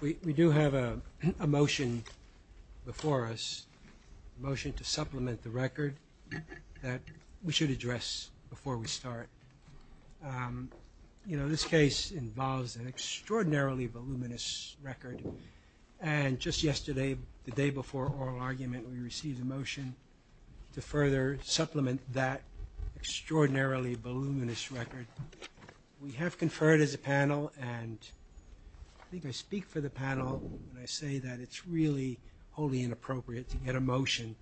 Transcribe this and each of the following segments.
We do have a motion before us, a motion to supplement the record that we should address before we start. You know, this case involves an extraordinarily voluminous record, and just yesterday, the day before oral argument, we received a motion to further supplement that extraordinarily voluminous record. We have conferred as a panel, and I think I speak for the panel when I say that it's really wholly inappropriate to get a motion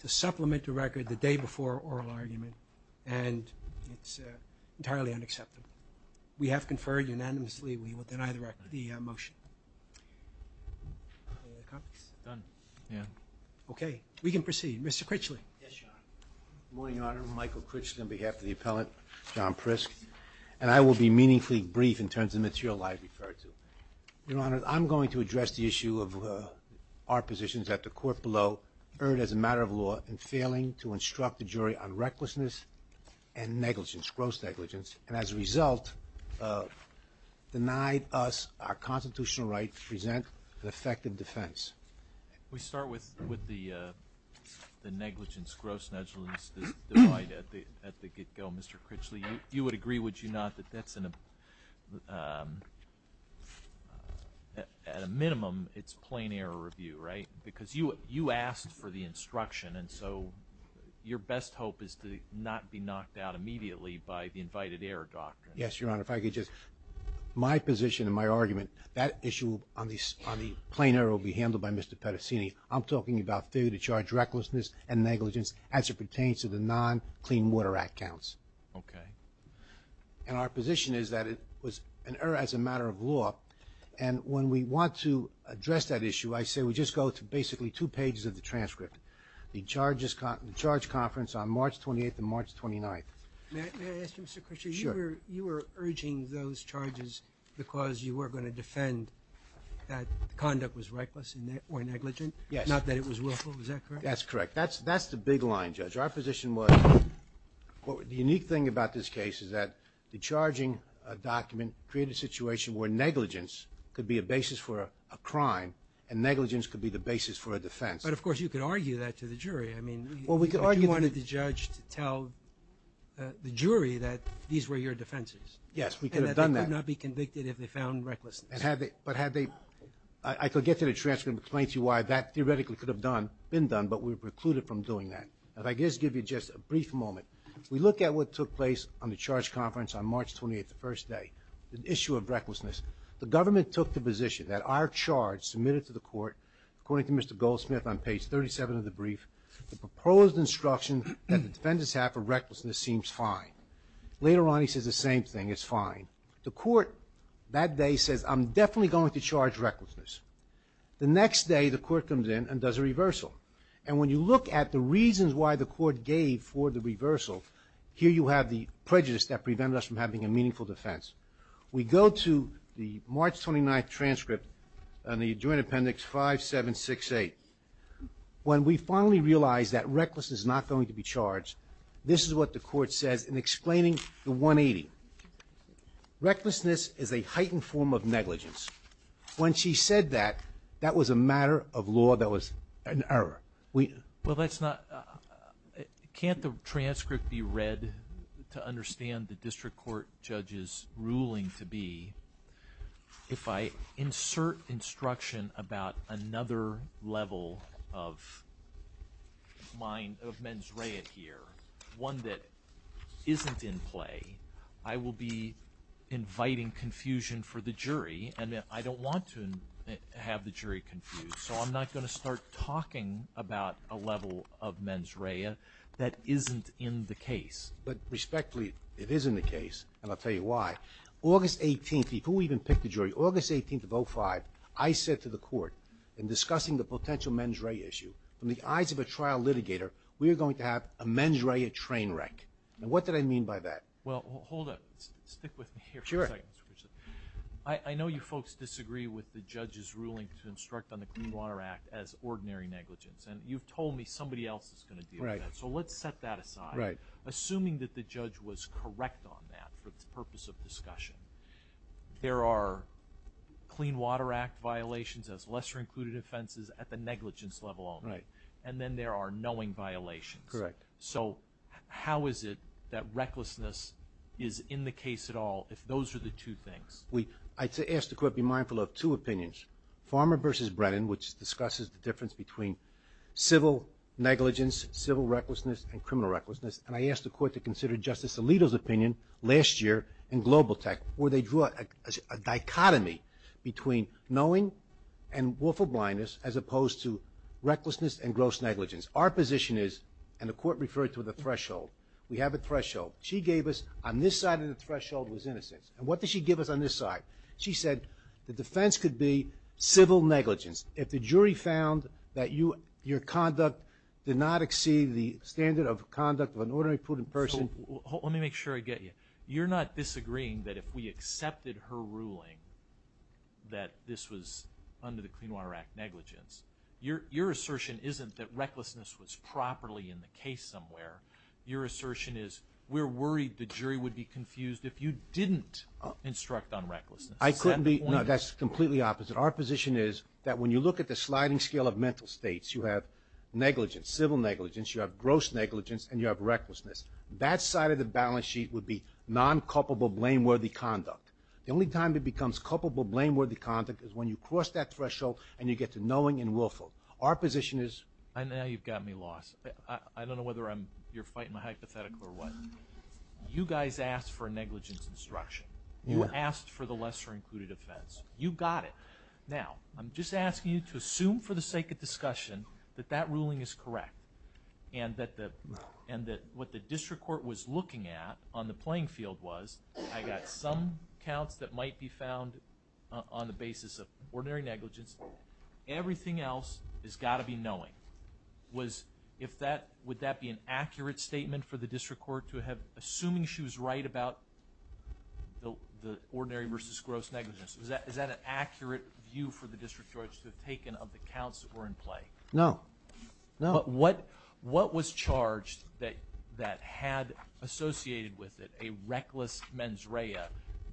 to supplement the record the day before oral argument, and it's entirely unacceptable. We have conferred unanimously. We will deny the motion. Okay. We can proceed. Mr. Critchley. Good morning, Your Honor. Michael Critchley on behalf of the appellant, John Prisk, and I will be meaningfully brief in terms of material I have referred to. Your Honor, I'm going to address the issue of our positions at the court below, earned as a matter of law, and failing to instruct the jury on recklessness and negligence, gross negligence, and as a constitutional right, present an effective defense. We start with the negligence, gross negligence divide at the get-go, Mr. Critchley. You would agree, would you not, that that's at a minimum, it's plain error review, right? Because you asked for the instruction, and so your best hope is to not be knocked out immediately by the invited error doctrine. Yes, Your Honor. If I could just, my position and my argument, that issue on the plain error will be handled by Mr. Pettacini. I'm talking about failure to charge recklessness and negligence as it pertains to the non-Clean Water Act counts. Okay. And our position is that it was an error as a matter of law, and when we want to address that issue, I say we just go to basically two pages of the transcript. The charge conference on March 28th and March 29th. May I ask you, Mr. Critchley? Sure. You were urging those charges because you were going to defend that the conduct was reckless or negligent? Yes. Not that it was willful. Is that correct? That's correct. That's the big line, Judge. Our position was, the unique thing about this case is that the charging document created a situation where negligence could be a basis for a crime, and negligence could be the basis for a defense. But, of course, you could argue that to the jury. I mean, if you wanted the judge to tell the jury that these were your defenses. Yes, we could have done that. And that they could not be convicted if they found recklessness. But had they, I could get to the transcript and explain to you why that theoretically could have been done, but we were precluded from doing that. If I could just give you just a brief moment. We look at what took place on the charge conference on March 28th, the first day. The issue of recklessness. The government took the position that our charge submitted to the court, according to Mr. Goldsmith on page 37 of the brief, the proposed instruction that the defendants have for recklessness seems fine. Later on, he says the same thing, it's fine. The court that day says, I'm definitely going to charge recklessness. The next day, the court comes in and does a reversal. And when you look at the reasons why the court gave for the reversal, here you have the prejudice that prevented us from having a meaningful defense. We go to the March 29th transcript on the joint appendix 5768. When we finally realized that recklessness is not going to be charged, this is what the court says in explaining the 180. Recklessness is a heightened form of negligence. When she said that, that was a matter of law that was an error. Well, that's not, can't the transcript be read to understand the district court judge's ruling to be that if I insert instruction about another level of mens rea here, one that isn't in play, I will be inviting confusion for the jury, and I don't want to have the jury confused, so I'm not going to start talking about a level of mens rea that isn't in the case. But respectfully, it is in the case, and I'll tell you why. August 18th, before we even pick the jury, August 18th of 05, I said to the court, in discussing the potential mens rea issue, in the eyes of a trial litigator, we are going to have a mens rea train wreck. And what did I mean by that? Well, hold up. Stick with me here for a second. Sure. I know you folks disagree with the judge's ruling to instruct on the Clean Water Act as ordinary negligence, and you've told me somebody else is going to deal with that. Right. So let's set that aside. Right. Assuming that the judge was correct on that for the purpose of discussion, there are Clean Water Act violations as lesser-included offenses at the negligence level only. Right. And then there are knowing violations. Correct. So how is it that recklessness is in the case at all if those are the two things? I asked the court to be mindful of two opinions, Farmer v. Brennan, which discusses the difference between civil negligence, civil recklessness, and criminal recklessness, and I asked the court to consider Justice Alito's opinion last year in Global Tech where they drew a dichotomy between knowing and willful blindness as opposed to recklessness and gross negligence. Our position is, and the court referred to the threshold, we have a threshold. She gave us on this side of the threshold was innocence. And what did she give us on this side? She said the defense could be civil negligence. If the jury found that your conduct did not exceed the standard of conduct of an ordinary prudent person. So let me make sure I get you. You're not disagreeing that if we accepted her ruling that this was under the Clean Water Act negligence. Your assertion isn't that recklessness was properly in the case somewhere. Your assertion is we're worried the jury would be confused if you didn't instruct on recklessness. Is that the point? No, that's completely opposite. Our position is that when you look at the sliding scale of mental states, you have negligence, civil negligence, you have gross negligence, and you have recklessness. That side of the balance sheet would be non-culpable blameworthy conduct. The only time it becomes culpable blameworthy conduct is when you cross that threshold and you get to knowing and willful. Our position is. I know you've got me lost. I don't know whether you're fighting my hypothetical or what. You guys asked for a negligence instruction. You asked for the lesser included offense. You got it. Now, I'm just asking you to assume for the sake of discussion that that ruling is correct and that what the district court was looking at on the playing field was I got some counts that might be found on the basis of ordinary negligence. Everything else has got to be knowing. Would that be an accurate statement for the district court to have, assuming she was right about the ordinary versus gross negligence, is that an accurate view for the district court to have taken of the counts that were in play? No. What was charged that had associated with it a reckless mens rea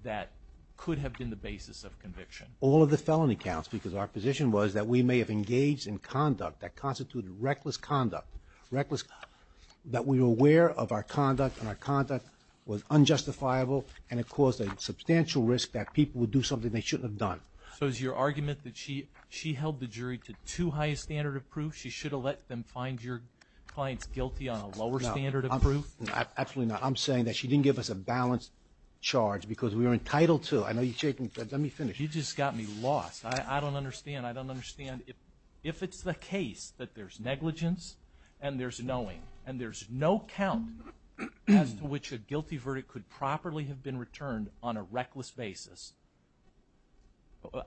that could have been the basis of conviction? All of the felony counts because our position was that we may have engaged in conduct that constituted reckless conduct, that we were aware of our conduct and our conduct was unjustifiable and it caused a substantial risk that people would do something they shouldn't have done. So is your argument that she held the jury to too high a standard of proof? She should have let them find your clients guilty on a lower standard of proof? Absolutely not. I'm saying that she didn't give us a balanced charge because we were entitled to. I know you're shaking. Let me finish. You just got me lost. I don't understand. I don't understand. If it's the case that there's negligence and there's knowing and there's no count as to which a guilty verdict could properly have been returned on a reckless basis,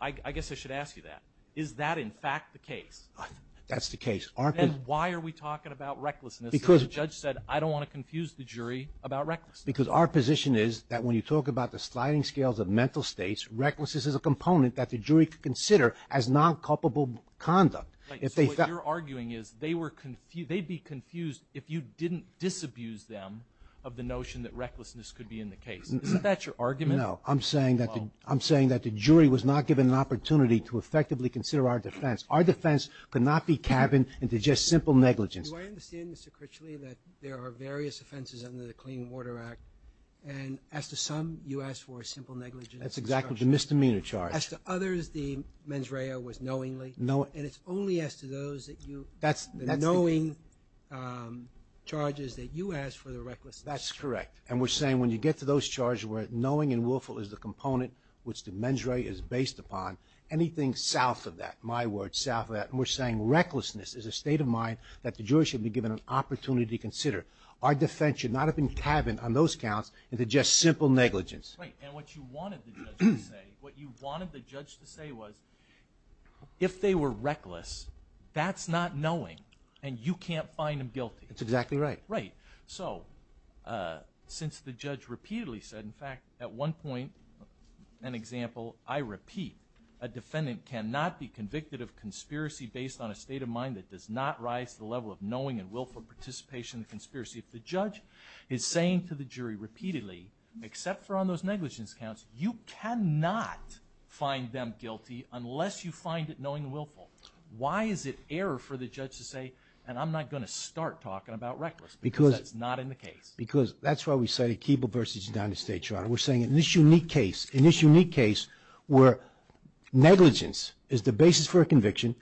I guess I should ask you that. Is that in fact the case? That's the case. Then why are we talking about recklessness because the judge said I don't want to confuse the jury about recklessness? Because our position is that when you talk about the sliding scales of mental states, recklessness is a component that the jury could consider as non-culpable conduct. So what you're arguing is they'd be confused if you didn't disabuse them of the notion that recklessness could be in the case. Isn't that your argument? No. I'm saying that the jury was not given an opportunity to effectively consider our defense. Our defense could not be cabined into just simple negligence. Do I understand, Mr. Critchley, that there are various offenses under the Clean Water Act and as to some, you ask for a simple negligence charge. That's exactly the misdemeanor charge. As to others, the mens rea was knowingly. And it's only as to those, the knowing charges, that you ask for the recklessness. That's correct. And we're saying when you get to those charges where knowing and willful is the component which the mens rea is based upon, anything south of that, my word, south of that, and we're saying recklessness is a state of mind that the jury should be given an opportunity to consider. Our defense should not have been cabined on those counts into just simple negligence. Right. And what you wanted the judge to say, what you wanted the judge to say was if they were reckless, that's not knowing and you can't find them guilty. That's exactly right. Right. So since the judge repeatedly said, in fact, at one point, an example, I repeat, a defendant cannot be convicted of conspiracy based on a state of mind that does not rise to the level of knowing and willful participation in the conspiracy. If the judge is saying to the jury repeatedly, except for on those negligence counts, you cannot find them guilty unless you find it knowing and willful. Why is it error for the judge to say, and I'm not going to start talking about reckless because that's not in the case? Because that's why we cited Keeble v. United States, Your Honor. We're saying in this unique case, in this unique case where negligence is the basis for a conviction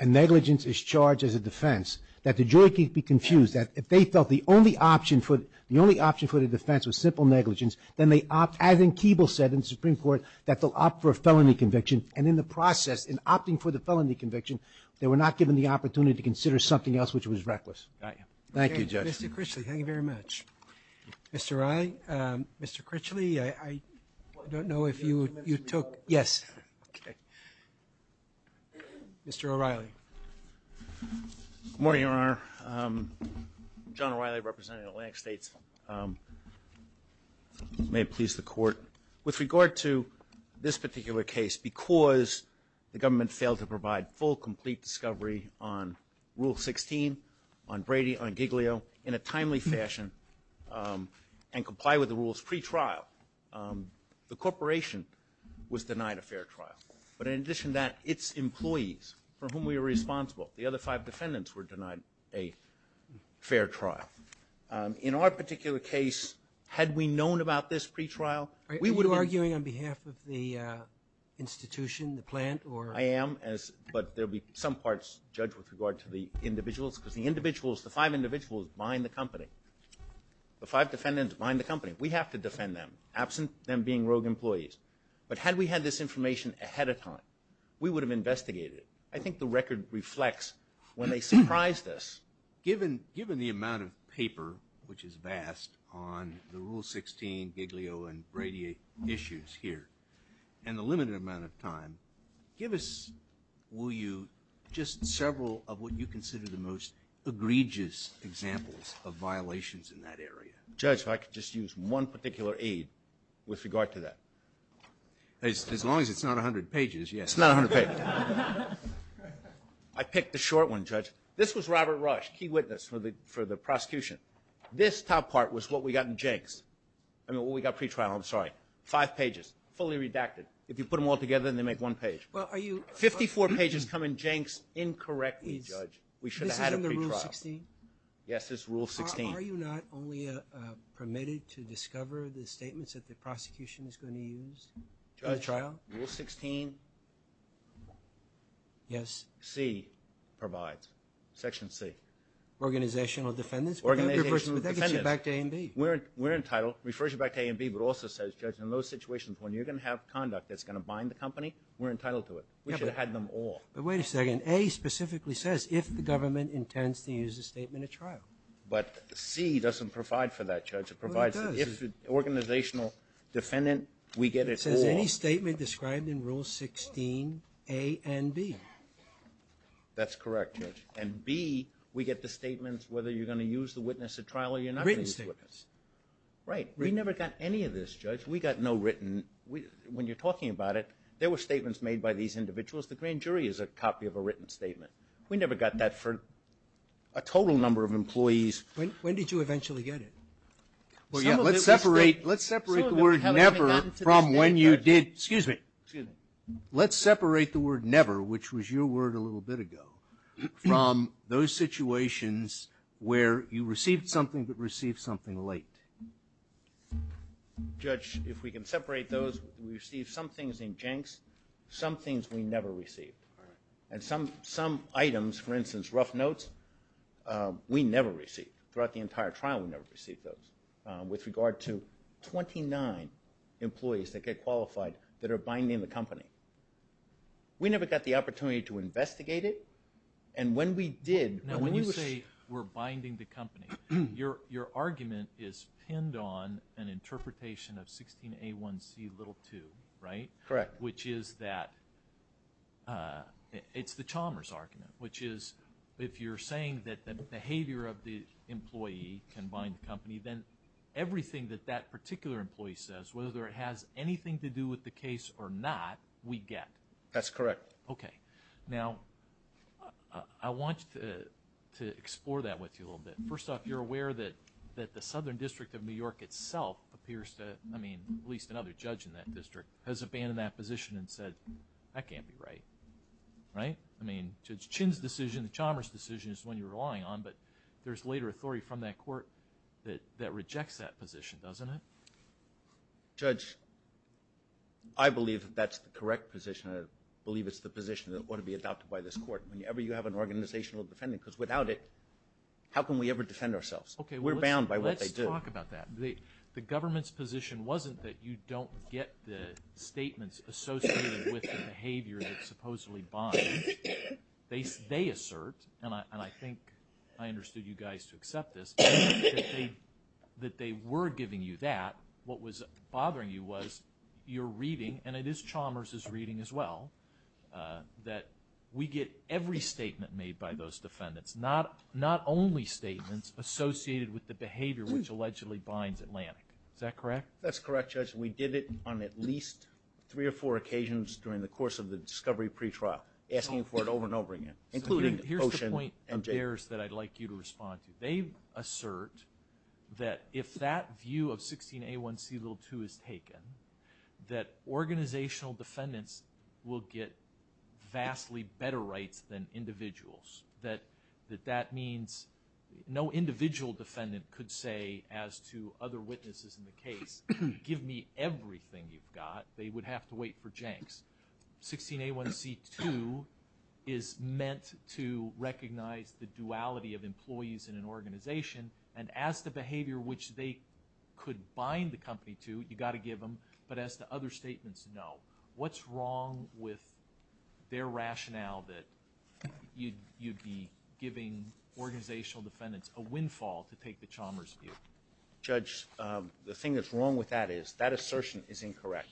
and negligence is charged as a defense, that the jury could be confused, that if they felt the only option for the defense was simple negligence, then they opt, as in Keeble said in the Supreme Court, that they'll opt for a felony conviction. And in the process, in opting for the felony conviction, they were not given the opportunity to consider something else which was reckless. Right. Thank you, Judge. Mr. Critchley, thank you very much. Mr. O'Reilly, Mr. Critchley, I don't know if you took – yes. Okay. Mr. O'Reilly. Good morning, Your Honor. John O'Reilly, representing Atlantic States. May it please the Court. With regard to this particular case, because the government failed to provide full, and comply with the rules pre-trial, the corporation was denied a fair trial. But in addition to that, its employees, for whom we are responsible, the other five defendants were denied a fair trial. In our particular case, had we known about this pre-trial, we would have been – Are you arguing on behalf of the institution, the plant, or – I am, but there will be some parts judged with regard to the individuals, because the individuals, the five individuals behind the company, the five defendants behind the company, we have to defend them, absent them being rogue employees. But had we had this information ahead of time, we would have investigated it. I think the record reflects when they surprised us. Given the amount of paper, which is vast, on the Rule 16, Giglio, and Brady issues here, and the limited amount of time, give us, will you, just several of what you consider the most egregious examples of violations in that area. Judge, if I could just use one particular aid with regard to that. As long as it's not 100 pages, yes. It's not 100 pages. I picked the short one, Judge. This was Robert Rush, key witness for the prosecution. This top part was what we got in jinx. I mean, what we got pre-trial, I'm sorry, five pages, fully redacted. If you put them all together and they make one page. Fifty-four pages come in jinx incorrectly, Judge. We should have had a pre-trial. This is under Rule 16? Yes, this is Rule 16. Are you not only permitted to discover the statements that the prosecution is going to use in the trial? Judge, Rule 16C provides, Section C. Organizational defendants, but that gets you back to A&B. In those situations, when you're going to have conduct that's going to bind the company, we're entitled to it. We should have had them all. But wait a second. A specifically says if the government intends to use a statement at trial. But C doesn't provide for that, Judge. It provides if an organizational defendant, we get it all. It says any statement described in Rule 16A&B. That's correct, Judge. And B, we get the statements whether you're going to use the witness at trial or you're not going to use the witness. Written statements. Right. We never got any of this, Judge. We got no written. When you're talking about it, there were statements made by these individuals. The grand jury is a copy of a written statement. We never got that for a total number of employees. When did you eventually get it? Well, yeah. Let's separate the word never from when you did. Excuse me. Excuse me. Let's separate the word never, which was your word a little bit ago, from those situations where you received something but received something late. Judge, if we can separate those, we received some things in janks, some things we never received. All right. And some items, for instance, rough notes, we never received. Throughout the entire trial, we never received those. With regard to 29 employees that get qualified that are binding the company, we never got the opportunity to investigate it. And when we did, when you say we're binding the company, your argument is pinned on an interpretation of 16A1C2, right? Correct. Which is that it's the Chalmers argument, which is if you're saying that the behavior of the employee can bind the company, then everything that that particular employee says, whether it has anything to do with the case or not, we get. That's correct. Okay. Now, I want to explore that with you a little bit. First off, you're aware that the Southern District of New York itself appears to, I mean, at least another judge in that district, has abandoned that position and said, that can't be right, right? I mean, Judge Chin's decision, the Chalmers decision is the one you're relying on, but there's later authority from that court that rejects that position, doesn't it? Judge, I believe that that's the correct position. I believe it's the position that ought to be adopted by this court. Whenever you have an organizational defendant, because without it, how can we ever defend ourselves? We're bound by what they do. Let's talk about that. The government's position wasn't that you don't get the statements associated with the behavior that supposedly binds. They assert, and I think I understood you guys to accept this, that they were giving you that. What was bothering you was you're reading, and it is Chalmers' reading as well, that we get every statement made by those defendants, not only statements associated with the behavior which allegedly binds Atlantic. Is that correct? That's correct, Judge. We did it on at least three or four occasions during the course of the discovery pretrial, asking for it over and over again, including Ocean and Jake. Here's the point of theirs that I'd like you to respond to. They assert that if that view of 16A1C2 is taken, that organizational defendants will get vastly better rights than individuals, that that means no individual defendant could say as to other witnesses in the case, give me everything you've got. They would have to wait for janks. 16A1C2 is meant to recognize the duality of employees in an organization, and as to behavior which they could bind the company to, you've got to give them, but as to other statements, no. What's wrong with their rationale that you'd be giving organizational defendants a windfall to take the Chalmers view? Judge, the thing that's wrong with that is that assertion is incorrect.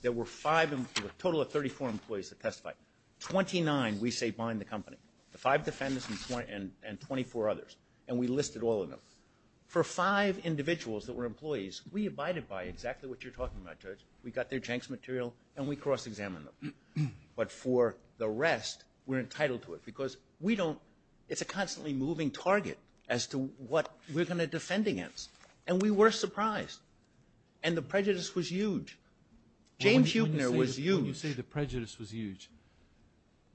There were a total of 34 employees that testified. Twenty-nine we say bind the company. The five defendants and 24 others, and we listed all of them. For five individuals that were employees, we abided by exactly what you're talking about, Judge. We got their janks material, and we cross-examined them. But for the rest, we're entitled to it because it's a constantly moving target as to what we're going to defend against, and we were surprised. And the prejudice was huge. James Huebner was huge. When you say the prejudice was huge,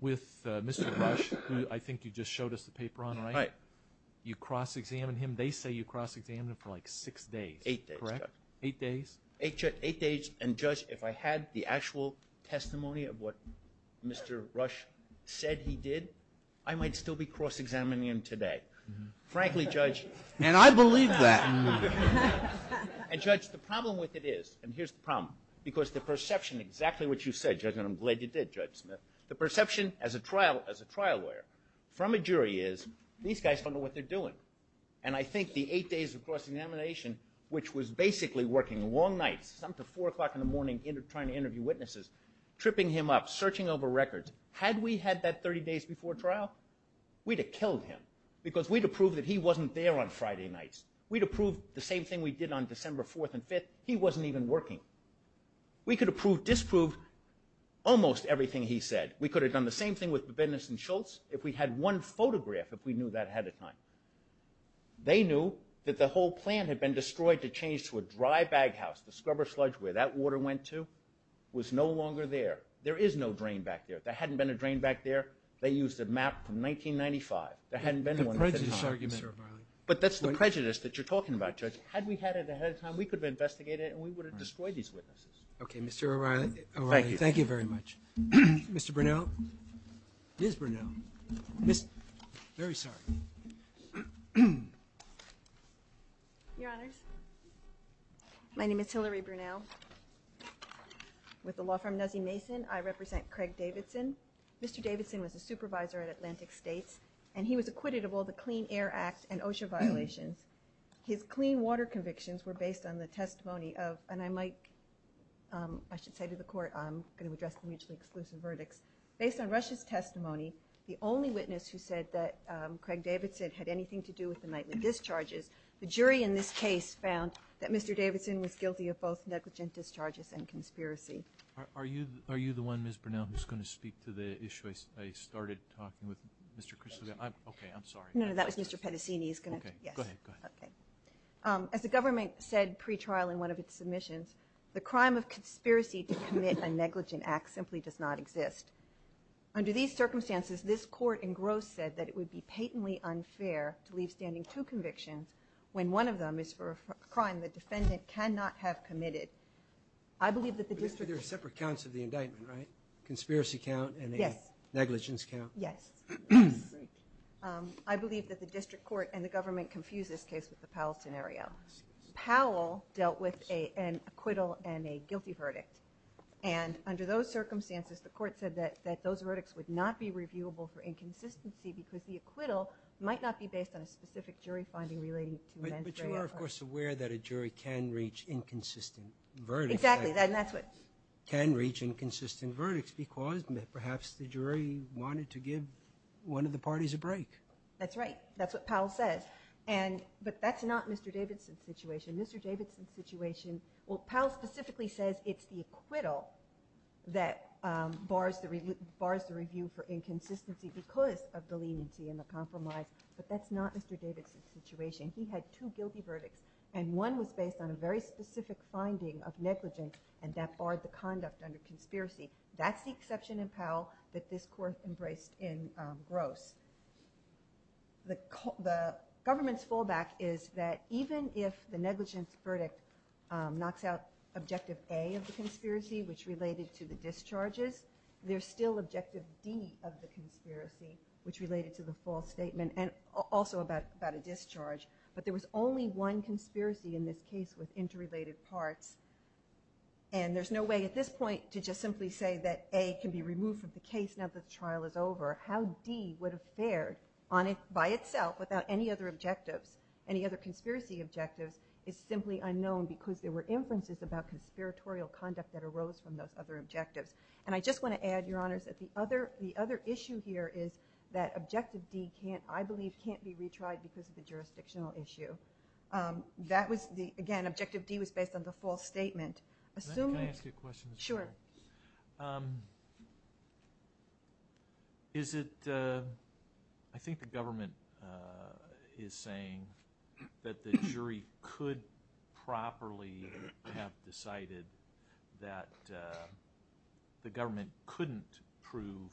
with Mr. Rush, I think you just showed us the paper on it, right? Right. You cross-examined him. They say you cross-examined him for like six days, correct? Eight days, Judge. Eight days? Eight days, and, Judge, if I had the actual testimony of what Mr. Rush said he did, I might still be cross-examining him today. Frankly, Judge. And I believe that. And, Judge, the problem with it is, and here's the problem, because the perception, exactly what you said, Judge, and I'm glad you did, Judge Smith, the perception as a trial lawyer from a jury is these guys don't know what they're doing. And I think the eight days of cross-examination, which was basically working long nights, up to 4 o'clock in the morning trying to interview witnesses, tripping him up, searching over records. Had we had that 30 days before trial, we'd have killed him because we'd have proved that he wasn't there on Friday nights. We'd have proved the same thing we did on December 4th and 5th. He wasn't even working. We could have proved, disproved, almost everything he said. We could have done the same thing with Bebendis and Schultz if we had one photograph, if we knew that ahead of time. They knew that the whole plant had been destroyed to change to a dry bag house. The scrubber sludge where that water went to was no longer there. There is no drain back there. There hadn't been a drain back there. They used a map from 1995. There hadn't been one at the time. But that's the prejudice that you're talking about, Judge. Had we had it ahead of time, we could have investigated it and we would have destroyed these witnesses. Okay, Mr. O'Reilly. Thank you. Thank you very much. Mr. Brunel. Ms. Brunel. Very sorry. Your Honors, my name is Hillary Brunel. With the law firm Nuzzy Mason, I represent Craig Davidson. Mr. Davidson was a supervisor at Atlantic States, and he was acquitted of all the Clean Air Act and OSHA violations. His clean water convictions were based on the testimony of, and I might, I should say to the Court, I'm going to address the mutually exclusive verdicts. Based on Russia's testimony, the only witness who said that Craig Davidson had anything to do with the nightly discharges, the jury in this case found that Mr. Davidson was guilty of both negligent discharges and conspiracy. Are you the one, Ms. Brunel, who's going to speak to the issue? No, I started talking with Mr. Kristolian. Okay, I'm sorry. No, no, that was Mr. Pettacini. Okay, go ahead. Okay. As the government said pre-trial in one of its submissions, the crime of conspiracy to commit a negligent act simply does not exist. Under these circumstances, this Court in gross said that it would be patently unfair to leave standing two convictions when one of them is for a crime the defendant cannot have committed. I believe that the difference- At least there are separate counts of the indictment, right? A conspiracy count and a negligence count. Yes. I believe that the district court and the government confuse this case with the Powell scenario. Powell dealt with an acquittal and a guilty verdict, and under those circumstances the Court said that those verdicts would not be reviewable for inconsistency because the acquittal might not be based on a specific jury finding relating to men's- But you are, of course, aware that a jury can reach inconsistent verdicts. Exactly, and that's what- Can reach inconsistent verdicts because perhaps the jury wanted to give one of the parties a break. That's right. That's what Powell says, but that's not Mr. Davidson's situation. Mr. Davidson's situation- Well, Powell specifically says it's the acquittal that bars the review for inconsistency because of the leniency and the compromise, but that's not Mr. Davidson's situation. He had two guilty verdicts, and one was based on a very specific finding of negligence, and that barred the conduct under conspiracy. That's the exception in Powell that this Court embraced in Gross. The government's fallback is that even if the negligence verdict knocks out Objective A of the conspiracy, which related to the discharges, there's still Objective D of the conspiracy, which related to the false statement, and also about a discharge, but there was only one conspiracy in this case with interrelated parts, and there's no way at this point to just simply say that A can be removed from the case now that the trial is over. How D would have fared by itself without any other objectives, any other conspiracy objectives, is simply unknown because there were inferences about conspiratorial conduct that arose from those other objectives. And I just want to add, Your Honors, that the other issue here is that Objective D, I believe, can't be retried because of the jurisdictional issue. Again, Objective D was based on the false statement. Can I ask you a question? Sure. I think the government is saying that the jury could properly have decided that the government couldn't prove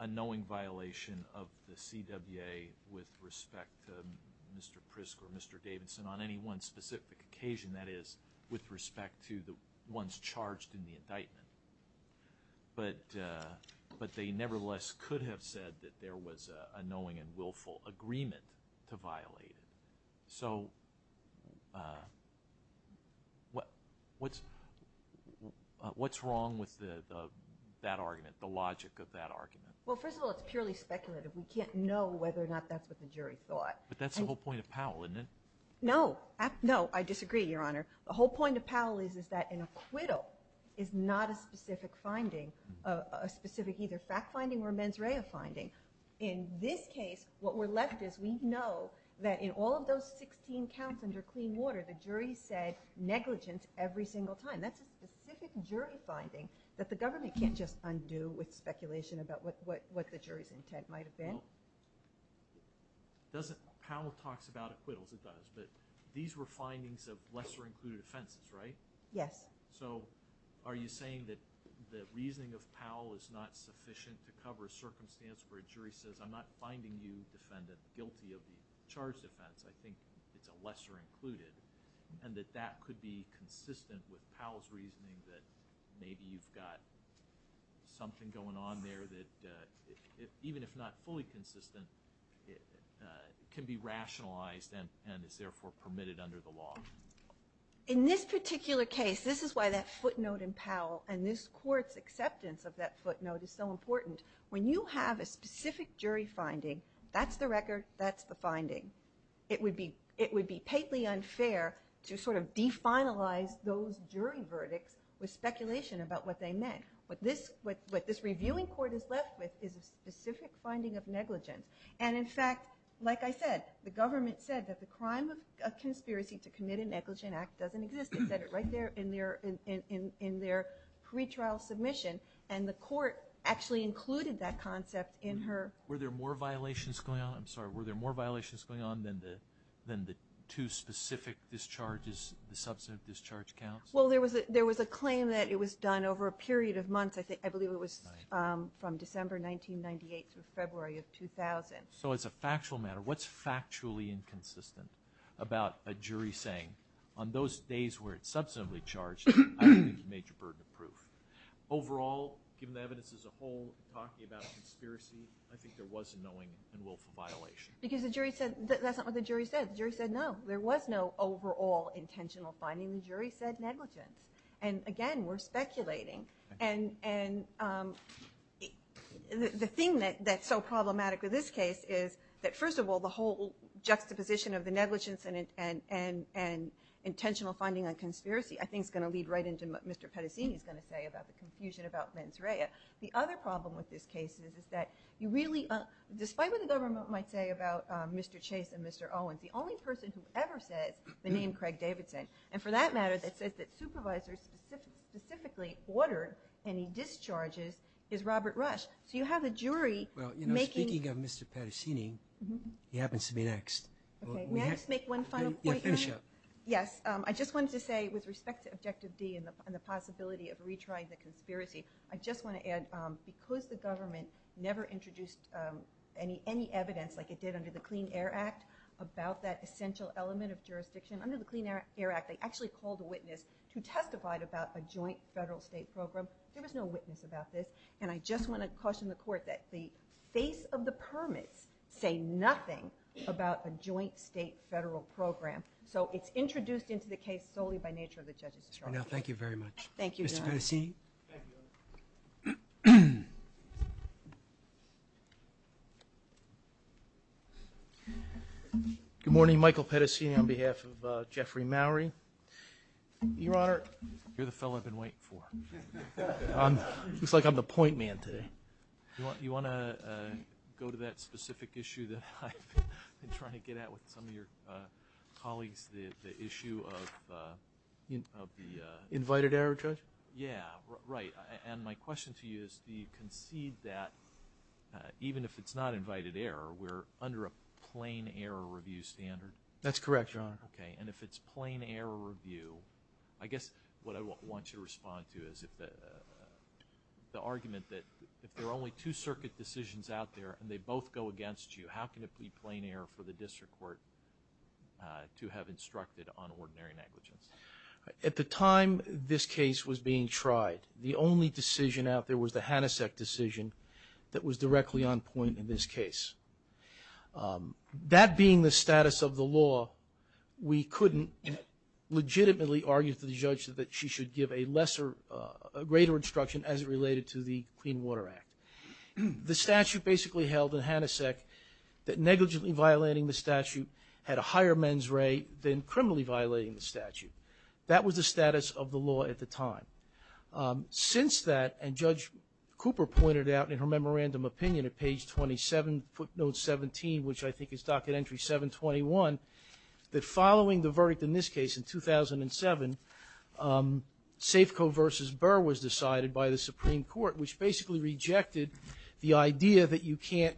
a knowing violation of the CWA with respect to Mr. Prisk or Mr. Davidson on any one specific occasion, that is, with respect to the ones charged in the indictment, but they nevertheless could have said that there was a knowing and willful agreement to violate it. So what's wrong with that argument, the logic of that argument? Well, first of all, it's purely speculative. We can't know whether or not that's what the jury thought. But that's the whole point of Powell, isn't it? No. No, I disagree, Your Honor. The whole point of Powell is that an acquittal is not a specific finding, a specific either fact finding or mens rea finding. In this case, what we're left is we know that in all of those 16 counts under clean water, the jury said negligence every single time. That's a specific jury finding that the government can't just undo with speculation about what the jury's intent might have been. Powell talks about acquittals, it does, but these were findings of lesser included offenses, right? Yes. So are you saying that the reasoning of Powell is not sufficient to cover a circumstance where a jury says, I'm not finding you, defendant, guilty of the charged offense, I think it's a lesser included, and that that could be consistent with Powell's reasoning that maybe you've got something going on there that, even if not fully consistent, can be rationalized and is therefore permitted under the law? In this particular case, this is why that footnote in Powell and this court's acceptance of that footnote is so important. When you have a specific jury finding, that's the record, that's the finding. It would be patently unfair to sort of definalize those jury verdicts with speculation about what they meant. What this reviewing court is left with is a specific finding of negligence. And in fact, like I said, the government said that the crime of conspiracy to commit a negligent act doesn't exist. It said it right there in their pretrial submission, and the court actually included that concept in her... Were there more violations going on? I'm sorry, were there more violations going on than the two specific discharges, the substantive discharge counts? I believe it was from December 1998 through February of 2000. So as a factual matter, what's factually inconsistent about a jury saying, on those days where it's substantively charged, I believe it's a major burden of proof? Overall, given the evidence as a whole, talking about conspiracy, I think there was a knowing and willful violation. Because the jury said... That's not what the jury said. The jury said no. There was no overall intentional finding. The jury said negligence. And again, we're speculating. And the thing that's so problematic with this case is that, first of all, the whole juxtaposition of the negligence and intentional finding on conspiracy I think is going to lead right into what Mr. Pettacini is going to say about the confusion about mens rea. The other problem with this case is that you really... Despite what the government might say about Mr. Chase and Mr. Owens, the only person who ever says the name Craig Davidson, and for that matter that says that supervisors specifically ordered any discharges, is Robert Rush. So you have a jury making... Well, speaking of Mr. Pettacini, he happens to be next. Okay. May I just make one final point? Yeah, finish up. Yes. I just wanted to say, with respect to Objective D and the possibility of retrying the conspiracy, I just want to add because the government never introduced any evidence, like it did under the Clean Air Act, about that essential element of jurisdiction, under the Clean Air Act they actually called a witness who testified about a joint federal-state program. There was no witness about this, and I just want to caution the Court that the face of the permits say nothing about a joint state-federal program. So it's introduced into the case solely by nature of the judge's charge. Thank you very much. Thank you, John. Mr. Pettacini? Thank you. Good morning. Michael Pettacini on behalf of Jeffrey Mowrey. Your Honor? You're the fellow I've been waiting for. It looks like I'm the point man today. You want to go to that specific issue that I've been trying to get at with some of your colleagues, the issue of the... Invited error, Judge? Yeah, right, and my question to you is, do you concede that even if it's not invited error, we're under a plain error review standard? That's correct, Your Honor. Okay, and if it's plain error review, I guess what I want you to respond to is the argument that if there are only two circuit decisions out there and they both go against you, how can it be plain error for the District Court to have instructed on ordinary negligence? At the time this case was being tried, the only decision out there was the Hanasek decision that was directly on point in this case. That being the status of the law, we couldn't legitimately argue to the judge that she should give a greater instruction as it related to the Clean Water Act. The statute basically held in Hanasek that negligently violating the statute had a higher men's rate than criminally violating the statute. That was the status of the law at the time. Since that, and Judge Cooper pointed out in her memorandum opinion at page 27, footnote 17, which I think is docket entry 721, that following the verdict in this case in 2007, Safeco v. Burr was decided by the Supreme Court, which basically rejected the idea that you can't...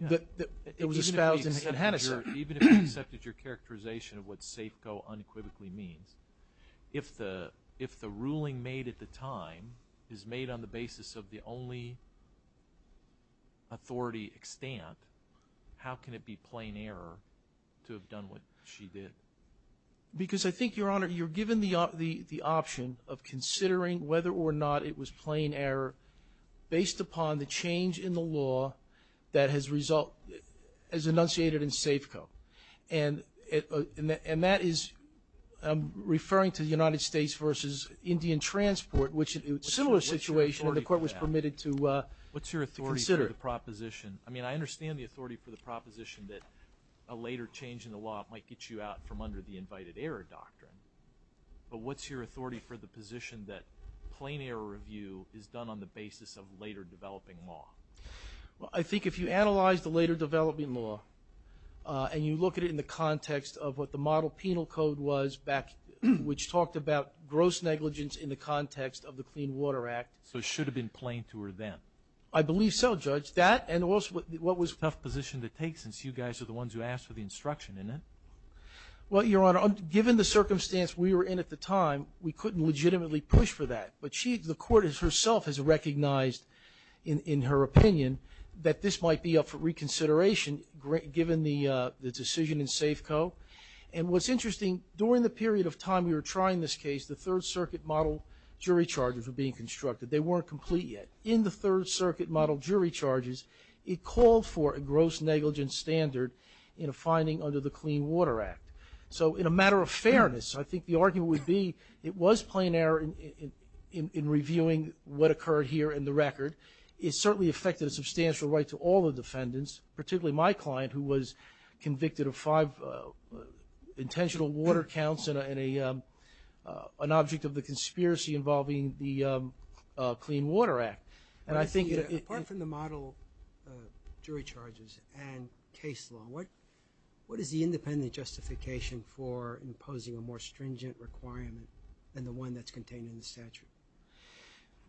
Even if you accepted your characterization of what Safeco unequivocally means, if the ruling made at the time is made on the basis of the only authority extant, how can it be plain error to have done what she did? Because I think, Your Honor, you're given the option of considering whether or not it was plain error based upon the change in the law that has result... has enunciated in Safeco. And that is... I'm referring to the United States v. Indian Transport, which is a similar situation. The court was permitted to consider it. What's your authority for the proposition? I mean, I understand the authority for the proposition that a later change in the law might get you out from under the invited error doctrine, but what's your authority for the position that plain error review is done on the basis of later developing law? Well, I think if you analyze the later developing law and you look at it in the context of what the model penal code was back... which talked about gross negligence in the context of the Clean Water Act... So it should have been plain to her then? I believe so, Judge. That and also what was... Tough position to take since you guys are the ones who asked for the instruction, isn't it? Well, Your Honor, given the circumstance we were in at the time, we couldn't legitimately push for that. But she... the court herself has recognized in her opinion that this might be up for reconsideration given the decision in Safeco. And what's interesting, during the period of time we were trying this case, the Third Circuit model jury charges were being constructed. They weren't complete yet. In the Third Circuit model jury charges, it called for a gross negligence standard in a finding under the Clean Water Act. So in a matter of fairness, I think the argument would be it was plain error in reviewing what occurred here in the record. It certainly affected a substantial right to all the defendants, particularly my client who was convicted of five intentional water counts and an object of the conspiracy involving the Clean Water Act. And I think... Apart from the model jury charges and case law, what is the independent justification for imposing a more stringent requirement than the one that's contained in the statute?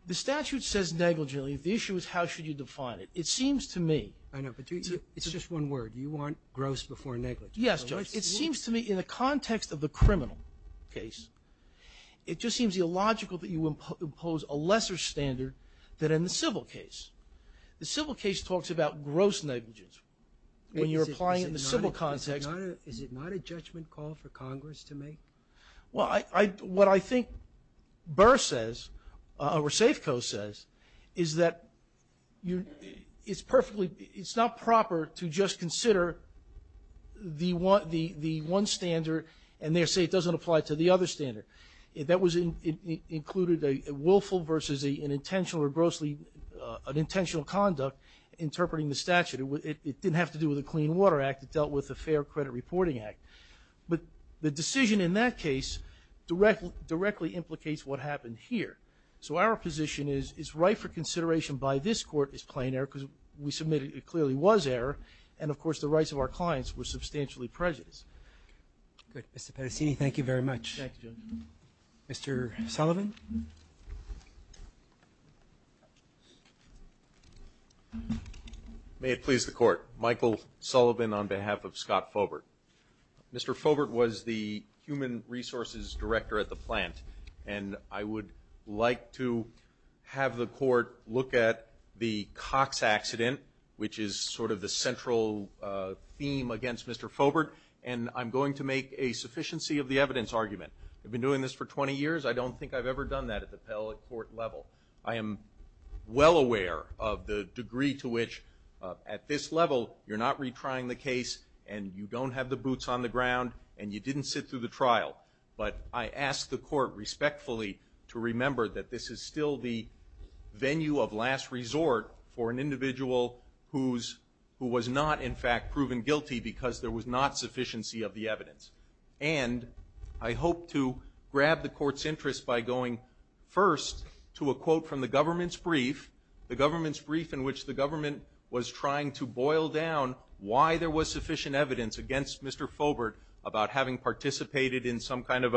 The statute says negligently. The issue is how should you define it. It seems to me... I know, but it's just one word. You want gross before negligence. Yes, Judge. It seems to me in the context of the criminal case, it just seems illogical that you impose a lesser standard than in the civil case. The civil case talks about gross negligence when you're applying it in the civil context. Is it not a judgment call for Congress to make? Well, what I think Burr says, or Safeco says, is that it's perfectly... It's not proper to just consider the one standard and then say it doesn't apply to the other standard. That included a willful versus an intentional or grossly... an intentional conduct interpreting the statute. It didn't have to do with the Clean Water Act. It dealt with the Fair Credit Reporting Act. But the decision in that case directly implicates what happened here. So our position is, it's right for consideration by this Court as plain error because we submitted it clearly was error, and of course the rights of our clients were substantially prejudiced. Good. Mr. Pettacini, thank you very much. Thank you, Judge. Mr. Sullivan. May it please the Court. Michael Sullivan on behalf of Scott Fobert. Mr. Fobert was the Human Resources Director at the plant, and I would like to have the Court look at the Cox accident, which is sort of the central theme against Mr. Fobert, and I'm going to make a sufficiency of the evidence argument. I've been doing this for 20 years. I don't think I've ever done that at the appellate court level. I am well aware of the degree to which at this level you're not retrying the case and you don't have the boots on the ground and you didn't sit through the trial, but I ask the Court respectfully to remember that this is still the venue of last resort for an individual who was not in fact proven guilty because there was not sufficiency of the evidence. And I hope to grab the Court's interest by going first to a quote from the government's brief, the government's brief in which the government was trying to boil down why there was sufficient evidence against Mr. Fobert about having participated in some kind of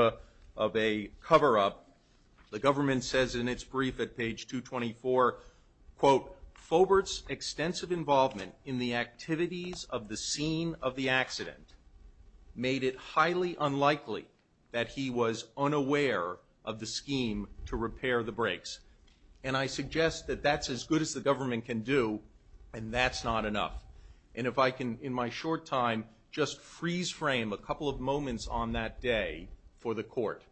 a cover-up. The government says in its brief at page 224, quote, Fobert's extensive involvement in the activities of the scene of the accident made it highly unlikely that he was unaware of the scheme to repair the brakes. And I suggest that that's as good as the government can do and that's not enough. And if I can, in my short time, just freeze-frame a couple of moments on that day for the Court.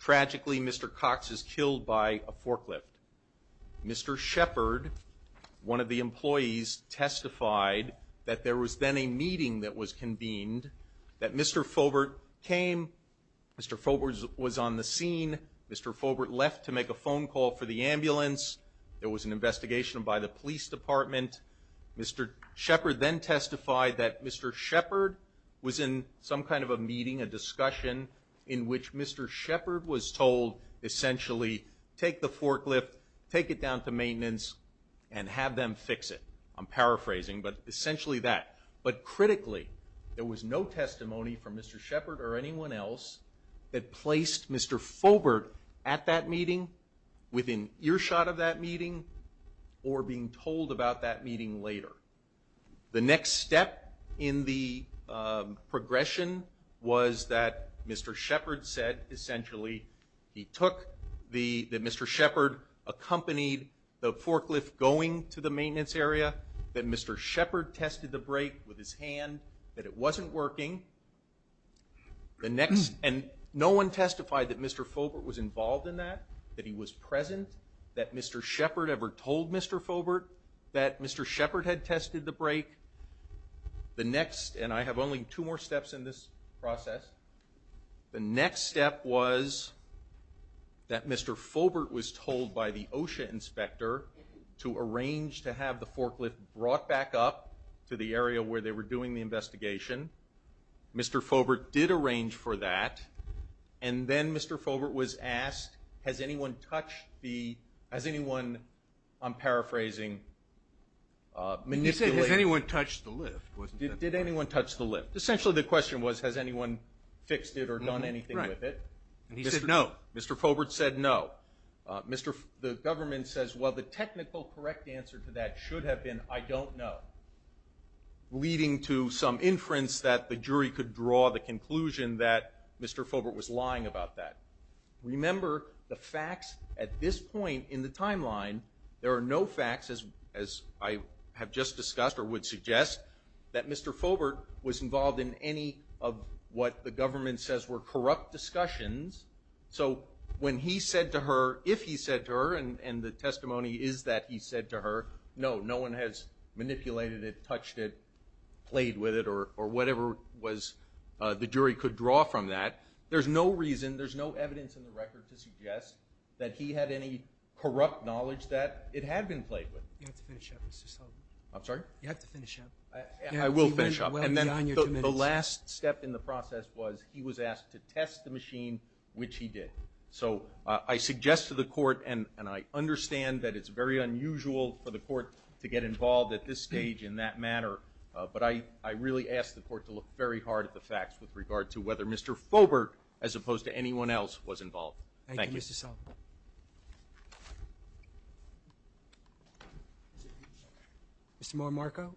Tragically, Mr. Cox is killed by a forklift. Mr. Shepard, one of the employees, testified that there was then a meeting that was convened, that Mr. Fobert came, Mr. Fobert was on the scene, Mr. Fobert left to make a phone call for the ambulance, there was an investigation by the police department, Mr. Shepard then testified that Mr. Shepard was in some kind of a meeting, a discussion, in which Mr. Shepard was told, essentially, take the forklift, take it down to maintenance, and have them fix it. I'm paraphrasing, but essentially that. But critically, there was no testimony from Mr. Shepard or anyone else that placed Mr. Fobert at that meeting within earshot of that meeting or being told about that meeting later. The next step in the progression was that Mr. Shepard said, essentially, that Mr. Shepard accompanied the forklift going to the maintenance area, that Mr. Shepard tested the brake with his hand, that it wasn't working. And no one testified that Mr. Fobert was involved in that, that he was present, that Mr. Shepard ever told Mr. Fobert that Mr. Shepard had tested the brake. The next, and I have only two more steps in this process, the next step was that Mr. Fobert was told by the OSHA inspector to arrange to have the forklift brought back up to the area where they were doing the investigation. Mr. Fobert did arrange for that, and then Mr. Fobert was asked, has anyone touched the... Has anyone, I'm paraphrasing, manipulated... He said, has anyone touched the lift. Did anyone touch the lift? Essentially, the question was, has anyone fixed it or done anything with it? And he said no. Mr. Fobert said no. The government says, well, the technical correct answer to that should have been, I don't know, leading to some inference that the jury could draw the conclusion that Mr. Fobert was lying about that. Remember, the facts at this point in the timeline, there are no facts, as I have just discussed or would suggest, that Mr. Fobert was involved in any of what the government says were corrupt discussions. So when he said to her, if he said to her, and the testimony is that he said to her, no, no one has manipulated it, touched it, played with it, or whatever the jury could draw from that, there's no reason, there's no evidence in the record to suggest that he had any corrupt knowledge that it had been played with. You have to finish up, Mr. Sullivan. I'm sorry? You have to finish up. I will finish up. And then the last step in the process was he was asked to test the machine, which he did. So I suggest to the court, and I understand that it's very unusual for the court to get involved at this stage in that matter, but I really ask the court to look very hard at the facts with regard to whether Mr. Fobert, as opposed to anyone else, was involved. Thank you. Thank you, Mr. Sullivan. Mr. Morimarco?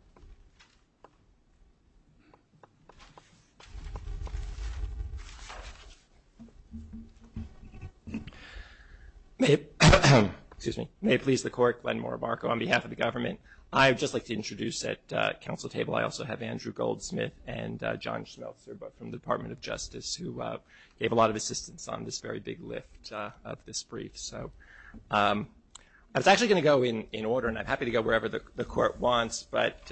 May it please the court, Glenn Morimarco, on behalf of the government, I would just like to introduce at council table, I also have Andrew Goldsmith and John Schmelzer from the Department of Justice who gave a lot of assistance on this very big lift of this brief. So I was actually going to go in order, and I'm happy to go wherever the court wants, but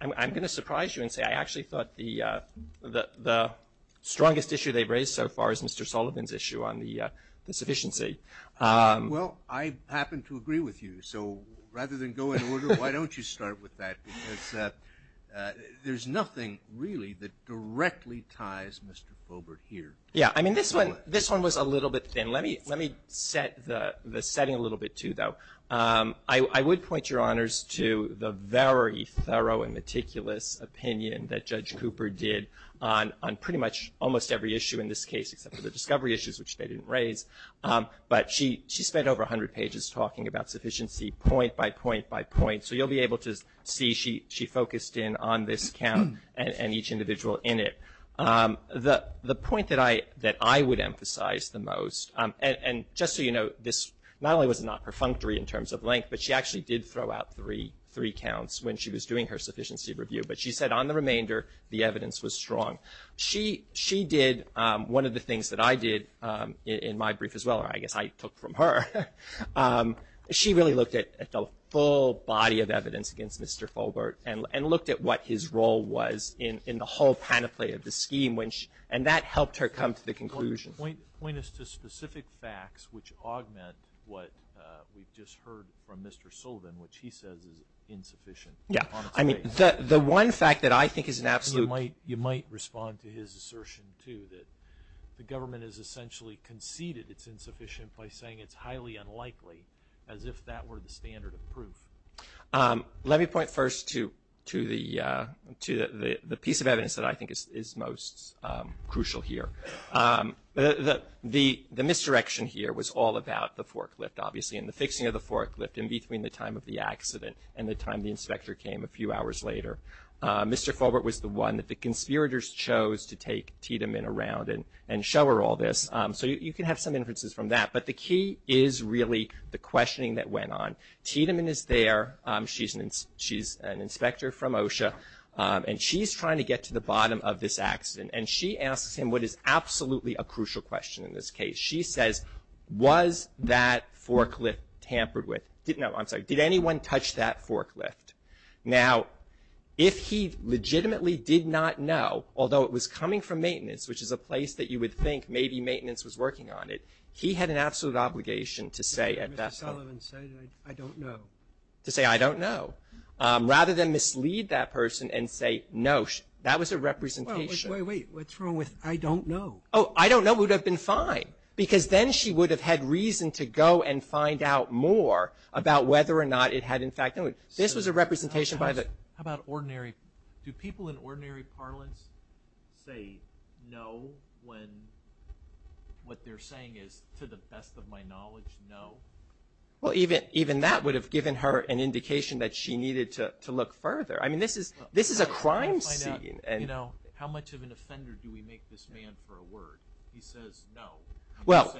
I'm going to surprise you and say I actually thought the strongest issue they've raised so far is Mr. Sullivan's issue on the sufficiency. Well, I happen to agree with you. So rather than go in order, why don't you start with that? Because there's nothing really that directly ties Mr. Fobert here. Yeah, I mean, this one was a little bit thin. Let me set the setting a little bit, too, though. I would point your honors to the very thorough and meticulous opinion that Judge Cooper did on pretty much almost every issue in this case, except for the discovery issues, which they didn't raise. But she spent over 100 pages talking about sufficiency point by point by point, so you'll be able to see she focused in on this count and each individual in it. The point that I would emphasize the most, and just so you know, this not only was not perfunctory in terms of length, but she actually did throw out three counts when she was doing her sufficiency review. But she said on the remainder, the evidence was strong. She did one of the things that I did in my brief as well, or I guess I took from her. She really looked at the full body of evidence against Mr. Fobert and looked at what his role was in the whole panoply of the scheme, and that helped her come to the conclusion. Point us to specific facts which augment what we've just heard from Mr. Sullivan, which he says is insufficient. Yeah, I mean, the one fact that I think is an absolute. You might respond to his assertion, too, that the government has essentially conceded it's insufficient by saying it's highly unlikely, as if that were the standard of proof. Let me point first to the piece of evidence that I think is most crucial here. The misdirection here was all about the forklift, obviously, and the fixing of the forklift in between the time of the accident and the time the inspector came a few hours later. Mr. Fobert was the one that the conspirators chose to take Tiedemann around and show her all this. So you can have some inferences from that, but the key is really the questioning that went on. Tiedemann is there. She's an inspector from OSHA, and she's trying to get to the bottom of this accident, and she asks him what is absolutely a crucial question in this case. She says, was that forklift tampered with? No, I'm sorry. Did anyone touch that forklift? Now, if he legitimately did not know, although it was coming from maintenance, which is a place that you would think maybe maintenance was working on it, he had an absolute obligation to say at that time. I don't know. To say, I don't know, rather than mislead that person and say, no, that was a representation. Wait, wait, wait. What's wrong with I don't know? Oh, I don't know would have been fine, because then she would have had reason to go and find out more about whether or not it had, in fact, this was a representation by the. How about ordinary? Do people in ordinary parlance say no when what they're saying is, to the best of my knowledge, no? Well, even that would have given her an indication that she needed to look further. I mean, this is a crime scene. You know, how much of an offender do we make this man for a word? He says no. Well.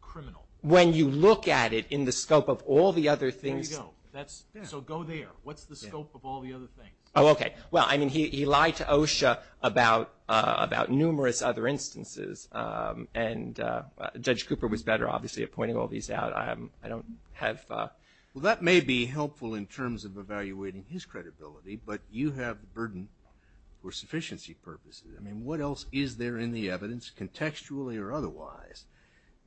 Criminal. When you look at it in the scope of all the other things. There you go. So go there. What's the scope of all the other things? Oh, okay. Well, I mean, he lied to OSHA about numerous other instances, and Judge Cooper was better, obviously, at pointing all these out. I don't have. Well, that may be helpful in terms of evaluating his credibility, but you have the burden for sufficiency purposes. I mean, what else is there in the evidence, contextually or otherwise,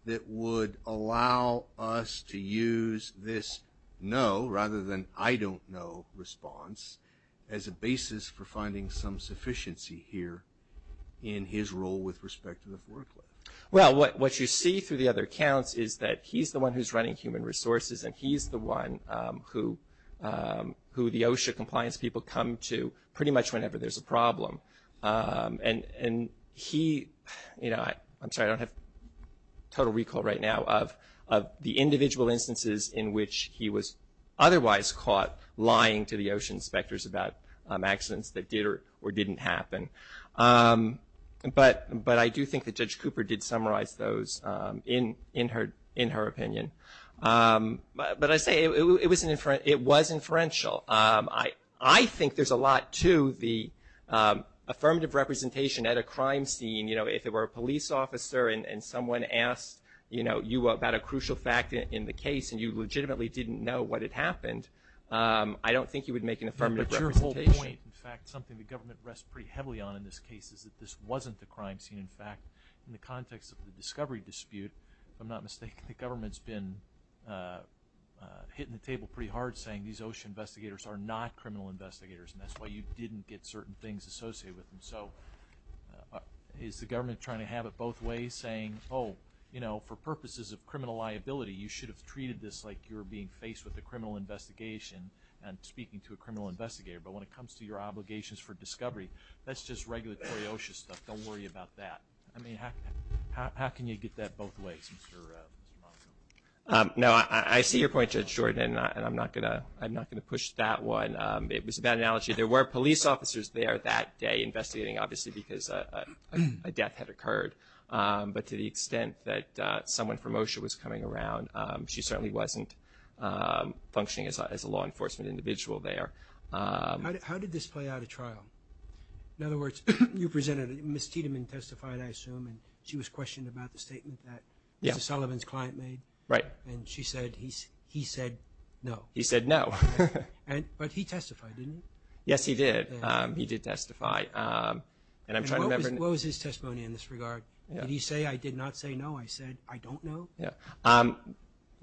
that would allow us to use this no rather than I don't know response as a basis for finding some sufficiency here in his role with respect to the foreclosure? Well, what you see through the other accounts is that he's the one who's running human resources, and he's the one who the OSHA compliance people come to pretty much whenever there's a problem. And he, you know, I'm sorry, I don't have total recall right now of the individual instances in which he was otherwise caught lying to the OSHA inspectors about accidents that did or didn't happen. But I do think that Judge Cooper did summarize those in her opinion. But I say it was inferential. I think there's a lot to the affirmative representation at a crime scene. You know, if it were a police officer and someone asked, you know, about a crucial fact in the case and you legitimately didn't know what had happened, I don't think you would make an affirmative representation. But your whole point, in fact, something the government rests pretty heavily on in this case is that this wasn't the crime scene. In fact, in the context of the discovery dispute, if I'm not mistaken, the government's been hitting the table pretty hard saying these OSHA investigators are not criminal investigators, and that's why you didn't get certain things associated with them. So is the government trying to have it both ways, saying, oh, you know, for purposes of criminal liability, you should have treated this like you were being faced with a criminal investigation and speaking to a criminal investigator. But when it comes to your obligations for discovery, that's just regulatory OSHA stuff. Don't worry about that. I mean, how can you get that both ways, Mr. Malcolm? No, I see your point, Judge Jordan, and I'm not going to push that one. It was a bad analogy. There were police officers there that day investigating, obviously, because a death had occurred. But to the extent that someone from OSHA was coming around, she certainly wasn't functioning as a law enforcement individual there. How did this play out at trial? In other words, you presented it. Ms. Tiedemann testified, I assume, and she was questioned about the statement that Mr. Sullivan's client made. Right. And she said he said no. He said no. But he testified, didn't he? Yes, he did. He did testify. And I'm trying to remember. What was his testimony in this regard? Did he say, I did not say no? I said, I don't know? Yeah.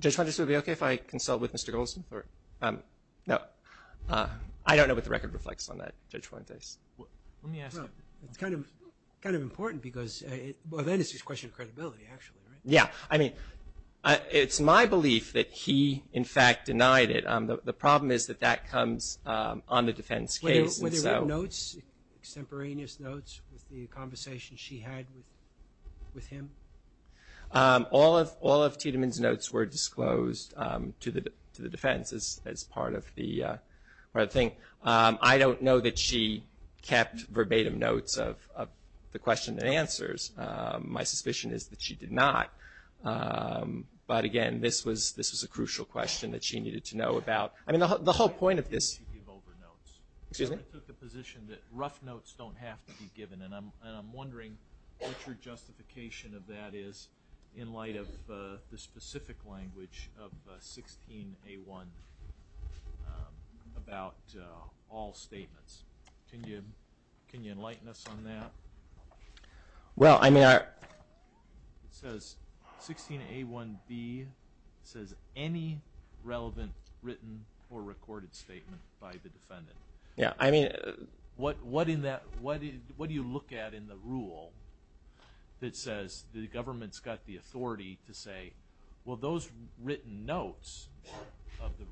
Judge Fuentes, would it be okay if I consult with Mr. Goldsmith? No. I don't know what the record reflects on that, Judge Fuentes. Let me ask you. Well, it's kind of important because well, then it's just a question of credibility, actually, right? Yeah. I mean, it's my belief that he, in fact, denied it. The problem is that that comes on the defense case. Were there notes, extemporaneous notes, with the conversation she had with him? All of Tiedemann's notes were disclosed to the defense as part of the thing. I don't know that she kept verbatim notes of the question and answers. My suspicion is that she did not. But, again, this was a crucial question that she needed to know about. I mean, the whole point of this. I took the position that rough notes don't have to be given, and I'm wondering what your justification of that is in light of the specific language of 16A1 about all statements. Can you enlighten us on that? Well, I mean, 16A1B says any relevant written or recorded statement by the defendant. What do you look at in the rule that says the government's got the authority to say, well, those written notes of the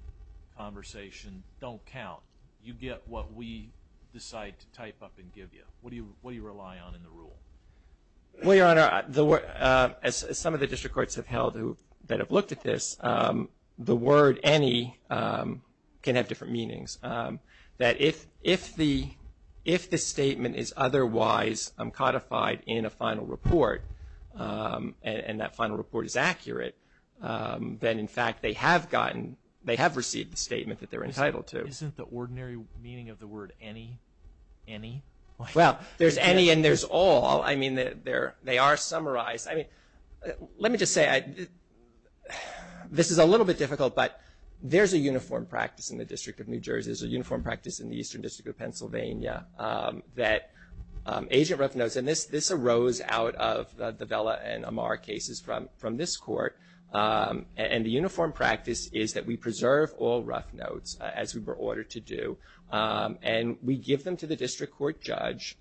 conversation don't count. You get what we decide to type up and give you. What do you rely on in the rule? Well, Your Honor, as some of the district courts have held that have looked at this, the word any can have different meanings. That if the statement is otherwise codified in a final report, and that final report is accurate, then, in fact, they have received the statement that they're entitled to. Isn't the ordinary meaning of the word any, any? Well, there's any and there's all. I mean, they are summarized. I mean, let me just say, this is a little bit difficult, but there's a uniform practice in the District of New Jersey. There's a uniform practice in the Eastern District of Pennsylvania that agent rough notes, and this arose out of the Vela and Amar cases from this court, and the uniform practice is that we preserve all rough notes as we were ordered to do, and we give them to the district court judge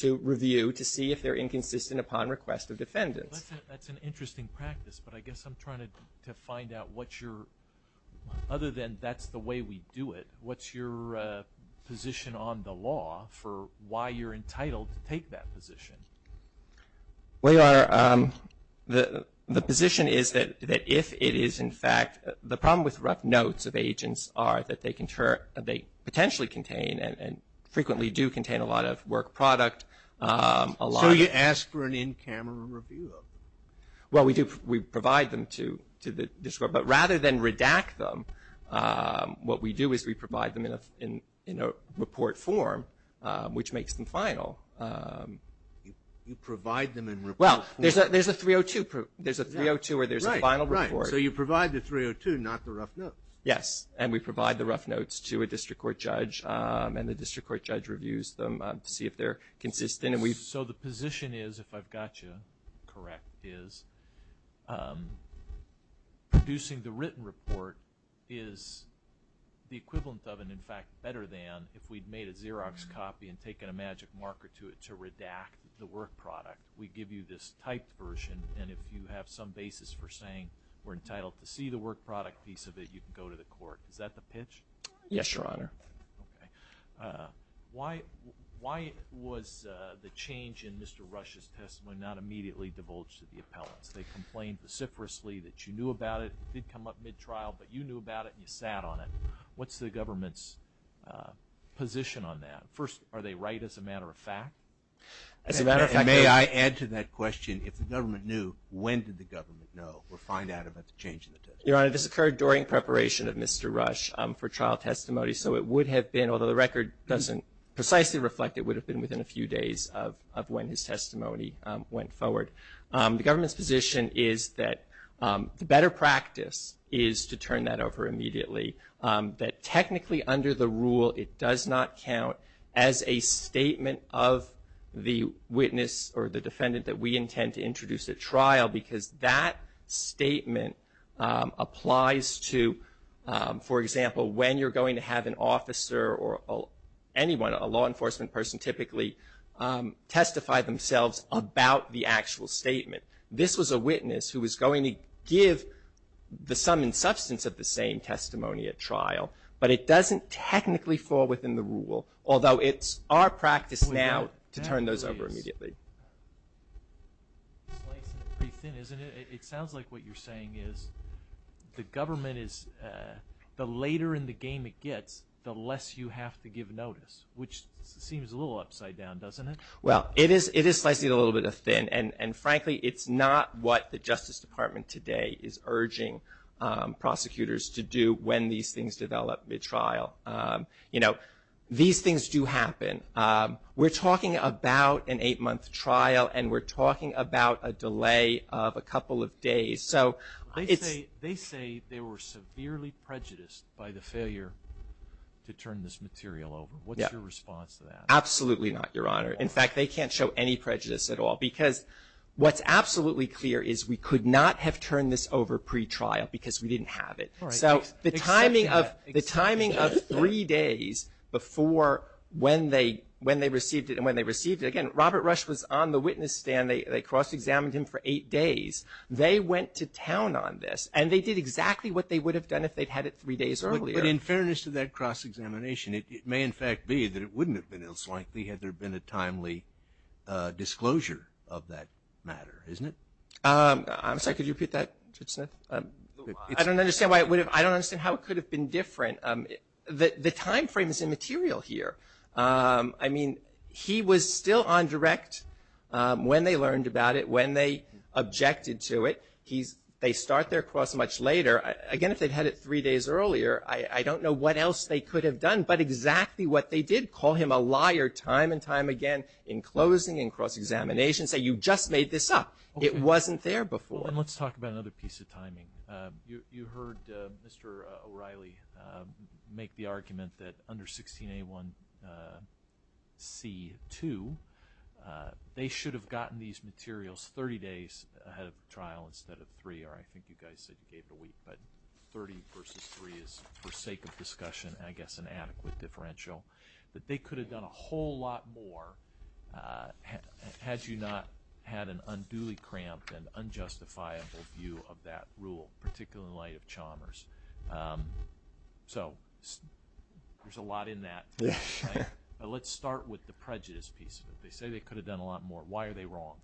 to review to see if they're inconsistent upon request of defendants. That's an interesting practice, but I guess I'm trying to find out what your, other than that's the way we do it, what's your position on the law for why you're entitled to take that position? Well, Your Honor, the position is that if it is, in fact, the problem with rough notes of agents are that they potentially contain and frequently do contain a lot of work product. So you ask for an in-camera review of them? Well, we do. We provide them to the district court, but rather than redact them, what we do is we provide them in a report form, which makes them final. You provide them in report form? Well, there's a 302. There's a 302 where there's a final report. So you provide the 302, not the rough notes? Yes, and we provide the rough notes to a district court judge, and the district court judge reviews them to see if they're consistent. So the position is, if I've got you correct, is producing the written report is the equivalent of and, in fact, better than if we'd made a Xerox copy and taken a magic marker to it to redact the work product. We give you this typed version, and if you have some basis for saying we're entitled to see the work product piece of it, you can go to the court. Is that the pitch? Yes, Your Honor. Okay. Why was the change in Mr. Rush's testimony not immediately divulged to the appellants? They complained vociferously that you knew about it. It did come up mid-trial, but you knew about it and you sat on it. What's the government's position on that? First, are they right as a matter of fact? May I add to that question, if the government knew, when did the government know or find out about the change in the testimony? Your Honor, this occurred during preparation of Mr. Rush for trial testimony, so it would have been, although the record doesn't precisely reflect it, would have been within a few days of when his testimony went forward. The government's position is that the better practice is to turn that over immediately, that technically under the rule it does not count as a statement of the witness or the defendant that we intend to introduce at trial because that statement applies to, for example, when you're going to have an officer or anyone, a law enforcement person typically testify themselves about the actual statement. This was a witness who was going to give the sum and substance of the same testimony at trial, but it doesn't technically fall within the rule, although it's our practice now to turn those over immediately. It sounds like what you're saying is the government is, the later in the game it gets, the less you have to give notice, which seems a little upside down, doesn't it? Well, it is slightly a little bit thin, and frankly it's not what the Justice Department today is urging prosecutors to do when these things develop mid-trial. You know, these things do happen. We're talking about an eight-month trial, and we're talking about a delay of a couple of days. They say they were severely prejudiced by the failure to turn this material over. What's your response to that? Absolutely not, Your Honor. In fact, they can't show any prejudice at all, because what's absolutely clear is we could not have turned this over pretrial because we didn't have it. So the timing of three days before when they received it and when they received it, again, Robert Rush was on the witness stand. They cross-examined him for eight days. They went to town on this, and they did exactly what they would have done if they'd had it three days earlier. But in fairness to that cross-examination, it may in fact be that it wouldn't have been as likely had there been a timely disclosure of that matter, isn't it? I'm sorry, could you repeat that, Judge Smith? I don't understand how it could have been different. The time frame is immaterial here. I mean, he was still on direct when they learned about it, when they objected to it. They start their cross much later. Again, if they'd had it three days earlier, I don't know what else they could have done. But exactly what they did, call him a liar time and time again in closing and cross-examination, say, you just made this up. It wasn't there before. Let's talk about another piece of timing. You heard Mr. O'Reilly make the argument that under 16A1C2, they should have gotten these materials 30 days ahead of trial instead of three, or I think you guys said you gave it a week. But 30 versus three is, for sake of discussion, I guess an adequate differential, that they could have done a whole lot more had you not had an unduly cramped and unjustifiable view of that rule, particularly in light of Chalmers. So there's a lot in that. But let's start with the prejudice piece of it. They say they could have done a lot more. Why are they wrong?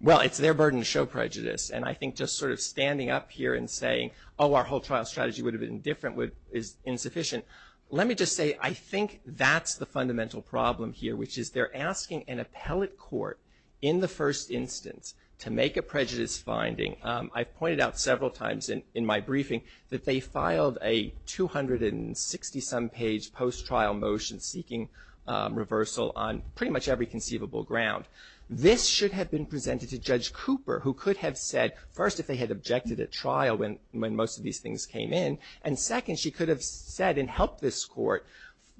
Well, it's their burden to show prejudice. And I think just sort of standing up here and saying, oh, our whole trial strategy would have been different is insufficient. Let me just say I think that's the fundamental problem here, which is they're asking an appellate court in the first instance to make a prejudice finding. I've pointed out several times in my briefing that they filed a 260-some page post-trial motion seeking reversal on pretty much every conceivable ground. This should have been presented to Judge Cooper, who could have said, first, if they had objected at trial when most of these things came in, and second, she could have said and helped this court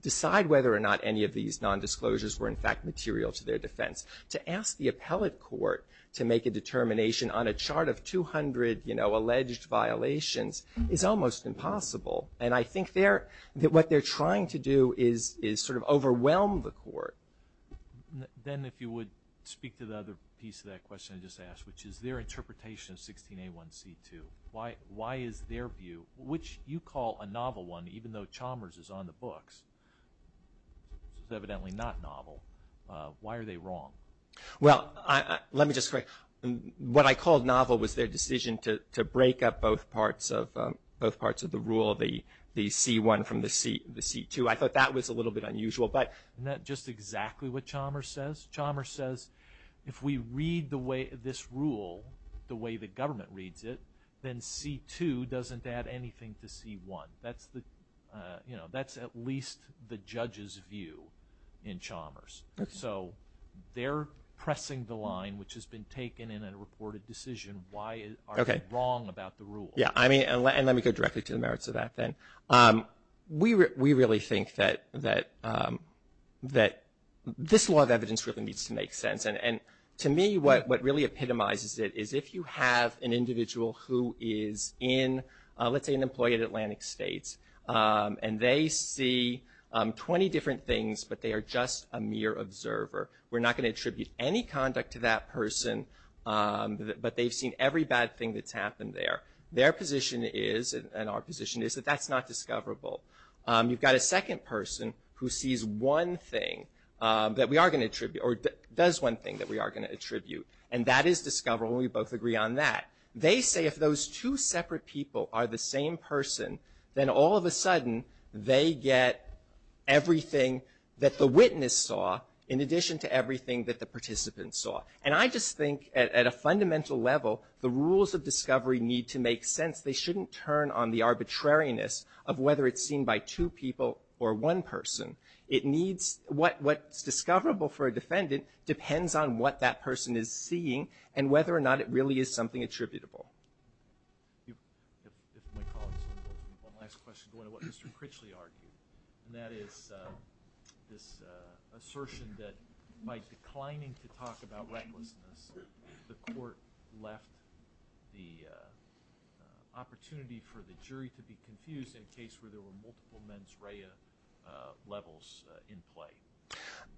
decide whether or not any of these nondisclosures were, in fact, material to their defense. To ask the appellate court to make a determination on a chart of 200, you know, alleged violations is almost impossible. And I think what they're trying to do is sort of overwhelm the court. Then if you would speak to the other piece of that question I just asked, which is their interpretation of 16A1C2. Why is their view, which you call a novel one, even though Chalmers is on the books. It's evidently not novel. Why are they wrong? Well, let me just correct. What I called novel was their decision to break up both parts of the rule, the C1 from the C2. I thought that was a little bit unusual. Isn't that just exactly what Chalmers says? Chalmers says if we read this rule the way the government reads it, then C2 doesn't add anything to C1. That's at least the judge's view in Chalmers. So they're pressing the line, which has been taken in a reported decision. Why are they wrong about the rule? Yeah, and let me go directly to the merits of that then. We really think that this law of evidence really needs to make sense, and to me what really epitomizes it is if you have an individual who is in, let's say an employee at Atlantic States, and they see 20 different things but they are just a mere observer. We're not going to attribute any conduct to that person, but they've seen every bad thing that's happened there. Their position is, and our position is, that that's not discoverable. You've got a second person who sees one thing that we are going to attribute, or does one thing that we are going to attribute, and that is discoverable and we both agree on that. They say if those two separate people are the same person, then all of a sudden they get everything that the witness saw in addition to everything that the participant saw. And I just think at a fundamental level the rules of discovery need to make sense. They shouldn't turn on the arbitrariness of whether it's seen by two people or one person. It needs, what's discoverable for a defendant depends on what that person is seeing and whether or not it really is something attributable. One last question going to what Mr. Critchley argued, and that is this assertion that by declining to talk about recklessness, the court left the opportunity for the jury to be confused in a case where there were multiple mens rea levels in play.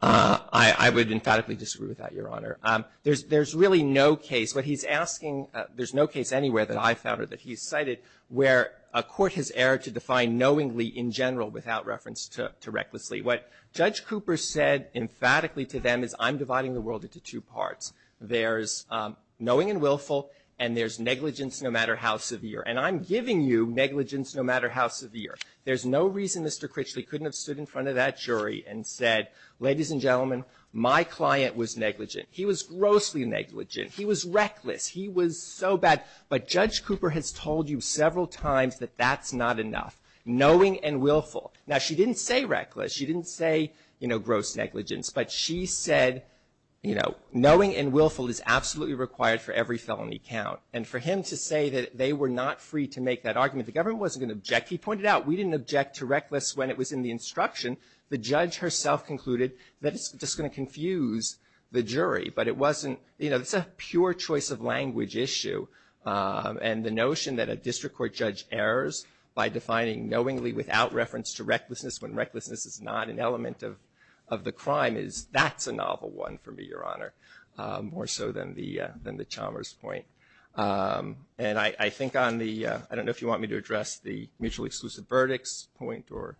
I would emphatically disagree with that, Your Honor. There's really no case. What he's asking, there's no case anywhere that I've found or that he's cited where a court has erred to define knowingly in general without reference to recklessly. What Judge Cooper said emphatically to them is I'm dividing the world into two parts. There's knowing and willful, and there's negligence no matter how severe. And I'm giving you negligence no matter how severe. There's no reason Mr. Critchley couldn't have stood in front of that jury and said, ladies and gentlemen, my client was negligent. He was grossly negligent. He was reckless. He was so bad. But Judge Cooper has told you several times that that's not enough. Knowing and willful. Now, she didn't say reckless. She didn't say, you know, gross negligence. But she said, you know, knowing and willful is absolutely required for every felony count. And for him to say that they were not free to make that argument, the government wasn't going to object. He pointed out we didn't object to reckless when it was in the instruction. The judge herself concluded that it's just going to confuse the jury. But it wasn't, you know, it's a pure choice of language issue. And the notion that a district court judge errs by defining knowingly without reference to recklessness when recklessness is not an element of the crime is that's a novel one for me, Your Honor, more so than the Chalmers point. And I think on the ‑‑ I don't know if you want me to address the mutually exclusive verdicts point or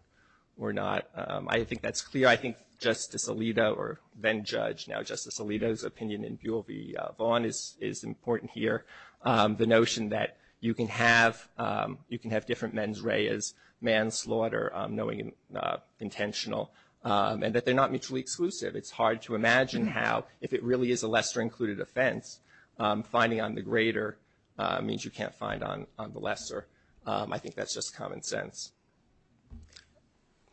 not. I think that's clear. I think Justice Alito or then-judge, now Justice Alito's opinion in Buol v. Vaughan is important here. The notion that you can have different mens reas, manslaughter, knowing and intentional, and that they're not mutually exclusive. It's hard to imagine how, if it really is a lesser included offense, finding on the greater means you can't find on the lesser. I think that's just common sense.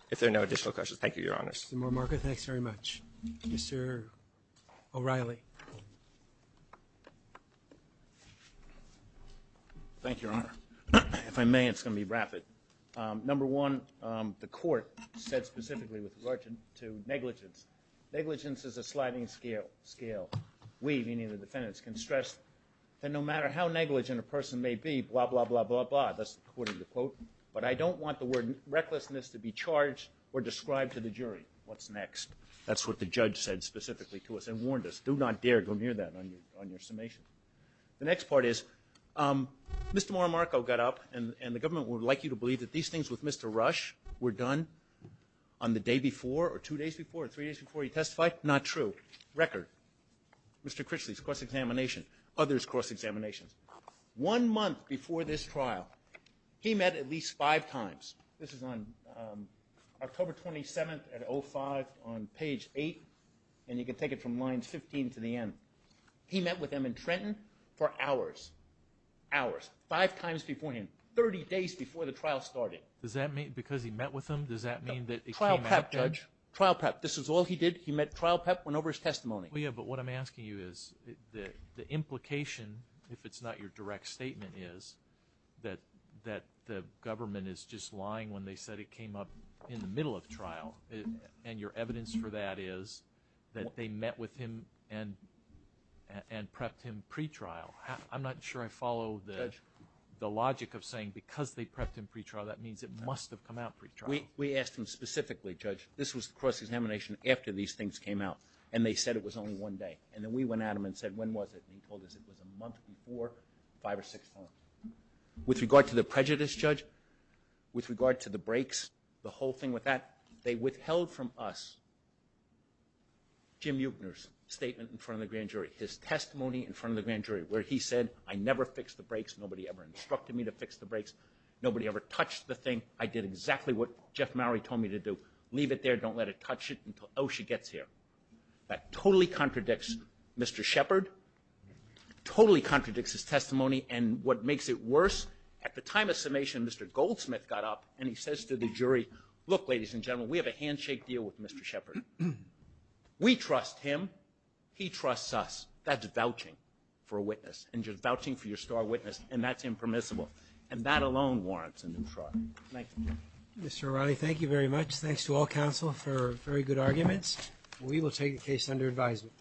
If there are no additional questions. Thank you, Your Honors. Mr. Mormarco, thanks very much. Mr. O'Reilly. Thank you, Your Honor. If I may, it's going to be rapid. Number one, the court said specifically with regard to negligence. Negligence is a sliding scale. We, meaning the defendants, can stress that no matter how negligent a person may be, blah, blah, blah, blah, blah, that's according to the quote, but I don't want the word recklessness to be charged or described to the jury. What's next? That's what the judge said specifically to us and warned us. Do not dare go near that on your summation. The next part is, Mr. Mormarco got up, and the government would like you to believe that these things with Mr. Rush were done on the day before or two days before or three days before he testified? Not true. Record. Mr. Critchley's cross-examination. Others' cross-examinations. One month before this trial, he met at least five times. This is on October 27th at 05 on page 8, and you can take it from lines 15 to the end. He met with him in Trenton for hours, hours, five times before him, 30 days before the trial started. Does that mean because he met with him, does that mean that it came up? Trial prep, Judge. Trial prep. This is all he did. He met trial prep, went over his testimony. Yeah, but what I'm asking you is the implication, if it's not your direct statement, is that the government is just lying when they said it came up in the middle of trial, and your evidence for that is that they met with him and prepped him pre-trial. I'm not sure I follow the logic of saying because they prepped him pre-trial, that means it must have come out pre-trial. We asked him specifically, Judge. This was the cross-examination after these things came out, and they said it was only one day. And then we went at him and said, when was it? And he told us it was a month before five or six months. With regard to the prejudice, Judge, with regard to the breaks, the whole thing with that, they withheld from us Jim Yukner's statement in front of the grand jury, his testimony in front of the grand jury, where he said, I never fixed the breaks. Nobody ever instructed me to fix the breaks. Nobody ever touched the thing. I did exactly what Jeff Maury told me to do, leave it there, don't let it touch it until Osha gets here. That totally contradicts Mr. Shepard, totally contradicts his testimony, and what makes it worse, at the time of summation, Mr. Goldsmith got up, and he says to the jury, look, ladies and gentlemen, we have a handshake deal with Mr. Shepard. We trust him. He trusts us. That's vouching for a witness, and just vouching for your star witness, and that's impermissible. And that alone warrants an entreaty. Thank you. Mr. O'Reilly, thank you very much. Thanks to all counsel for very good arguments. We will take the case under advisement.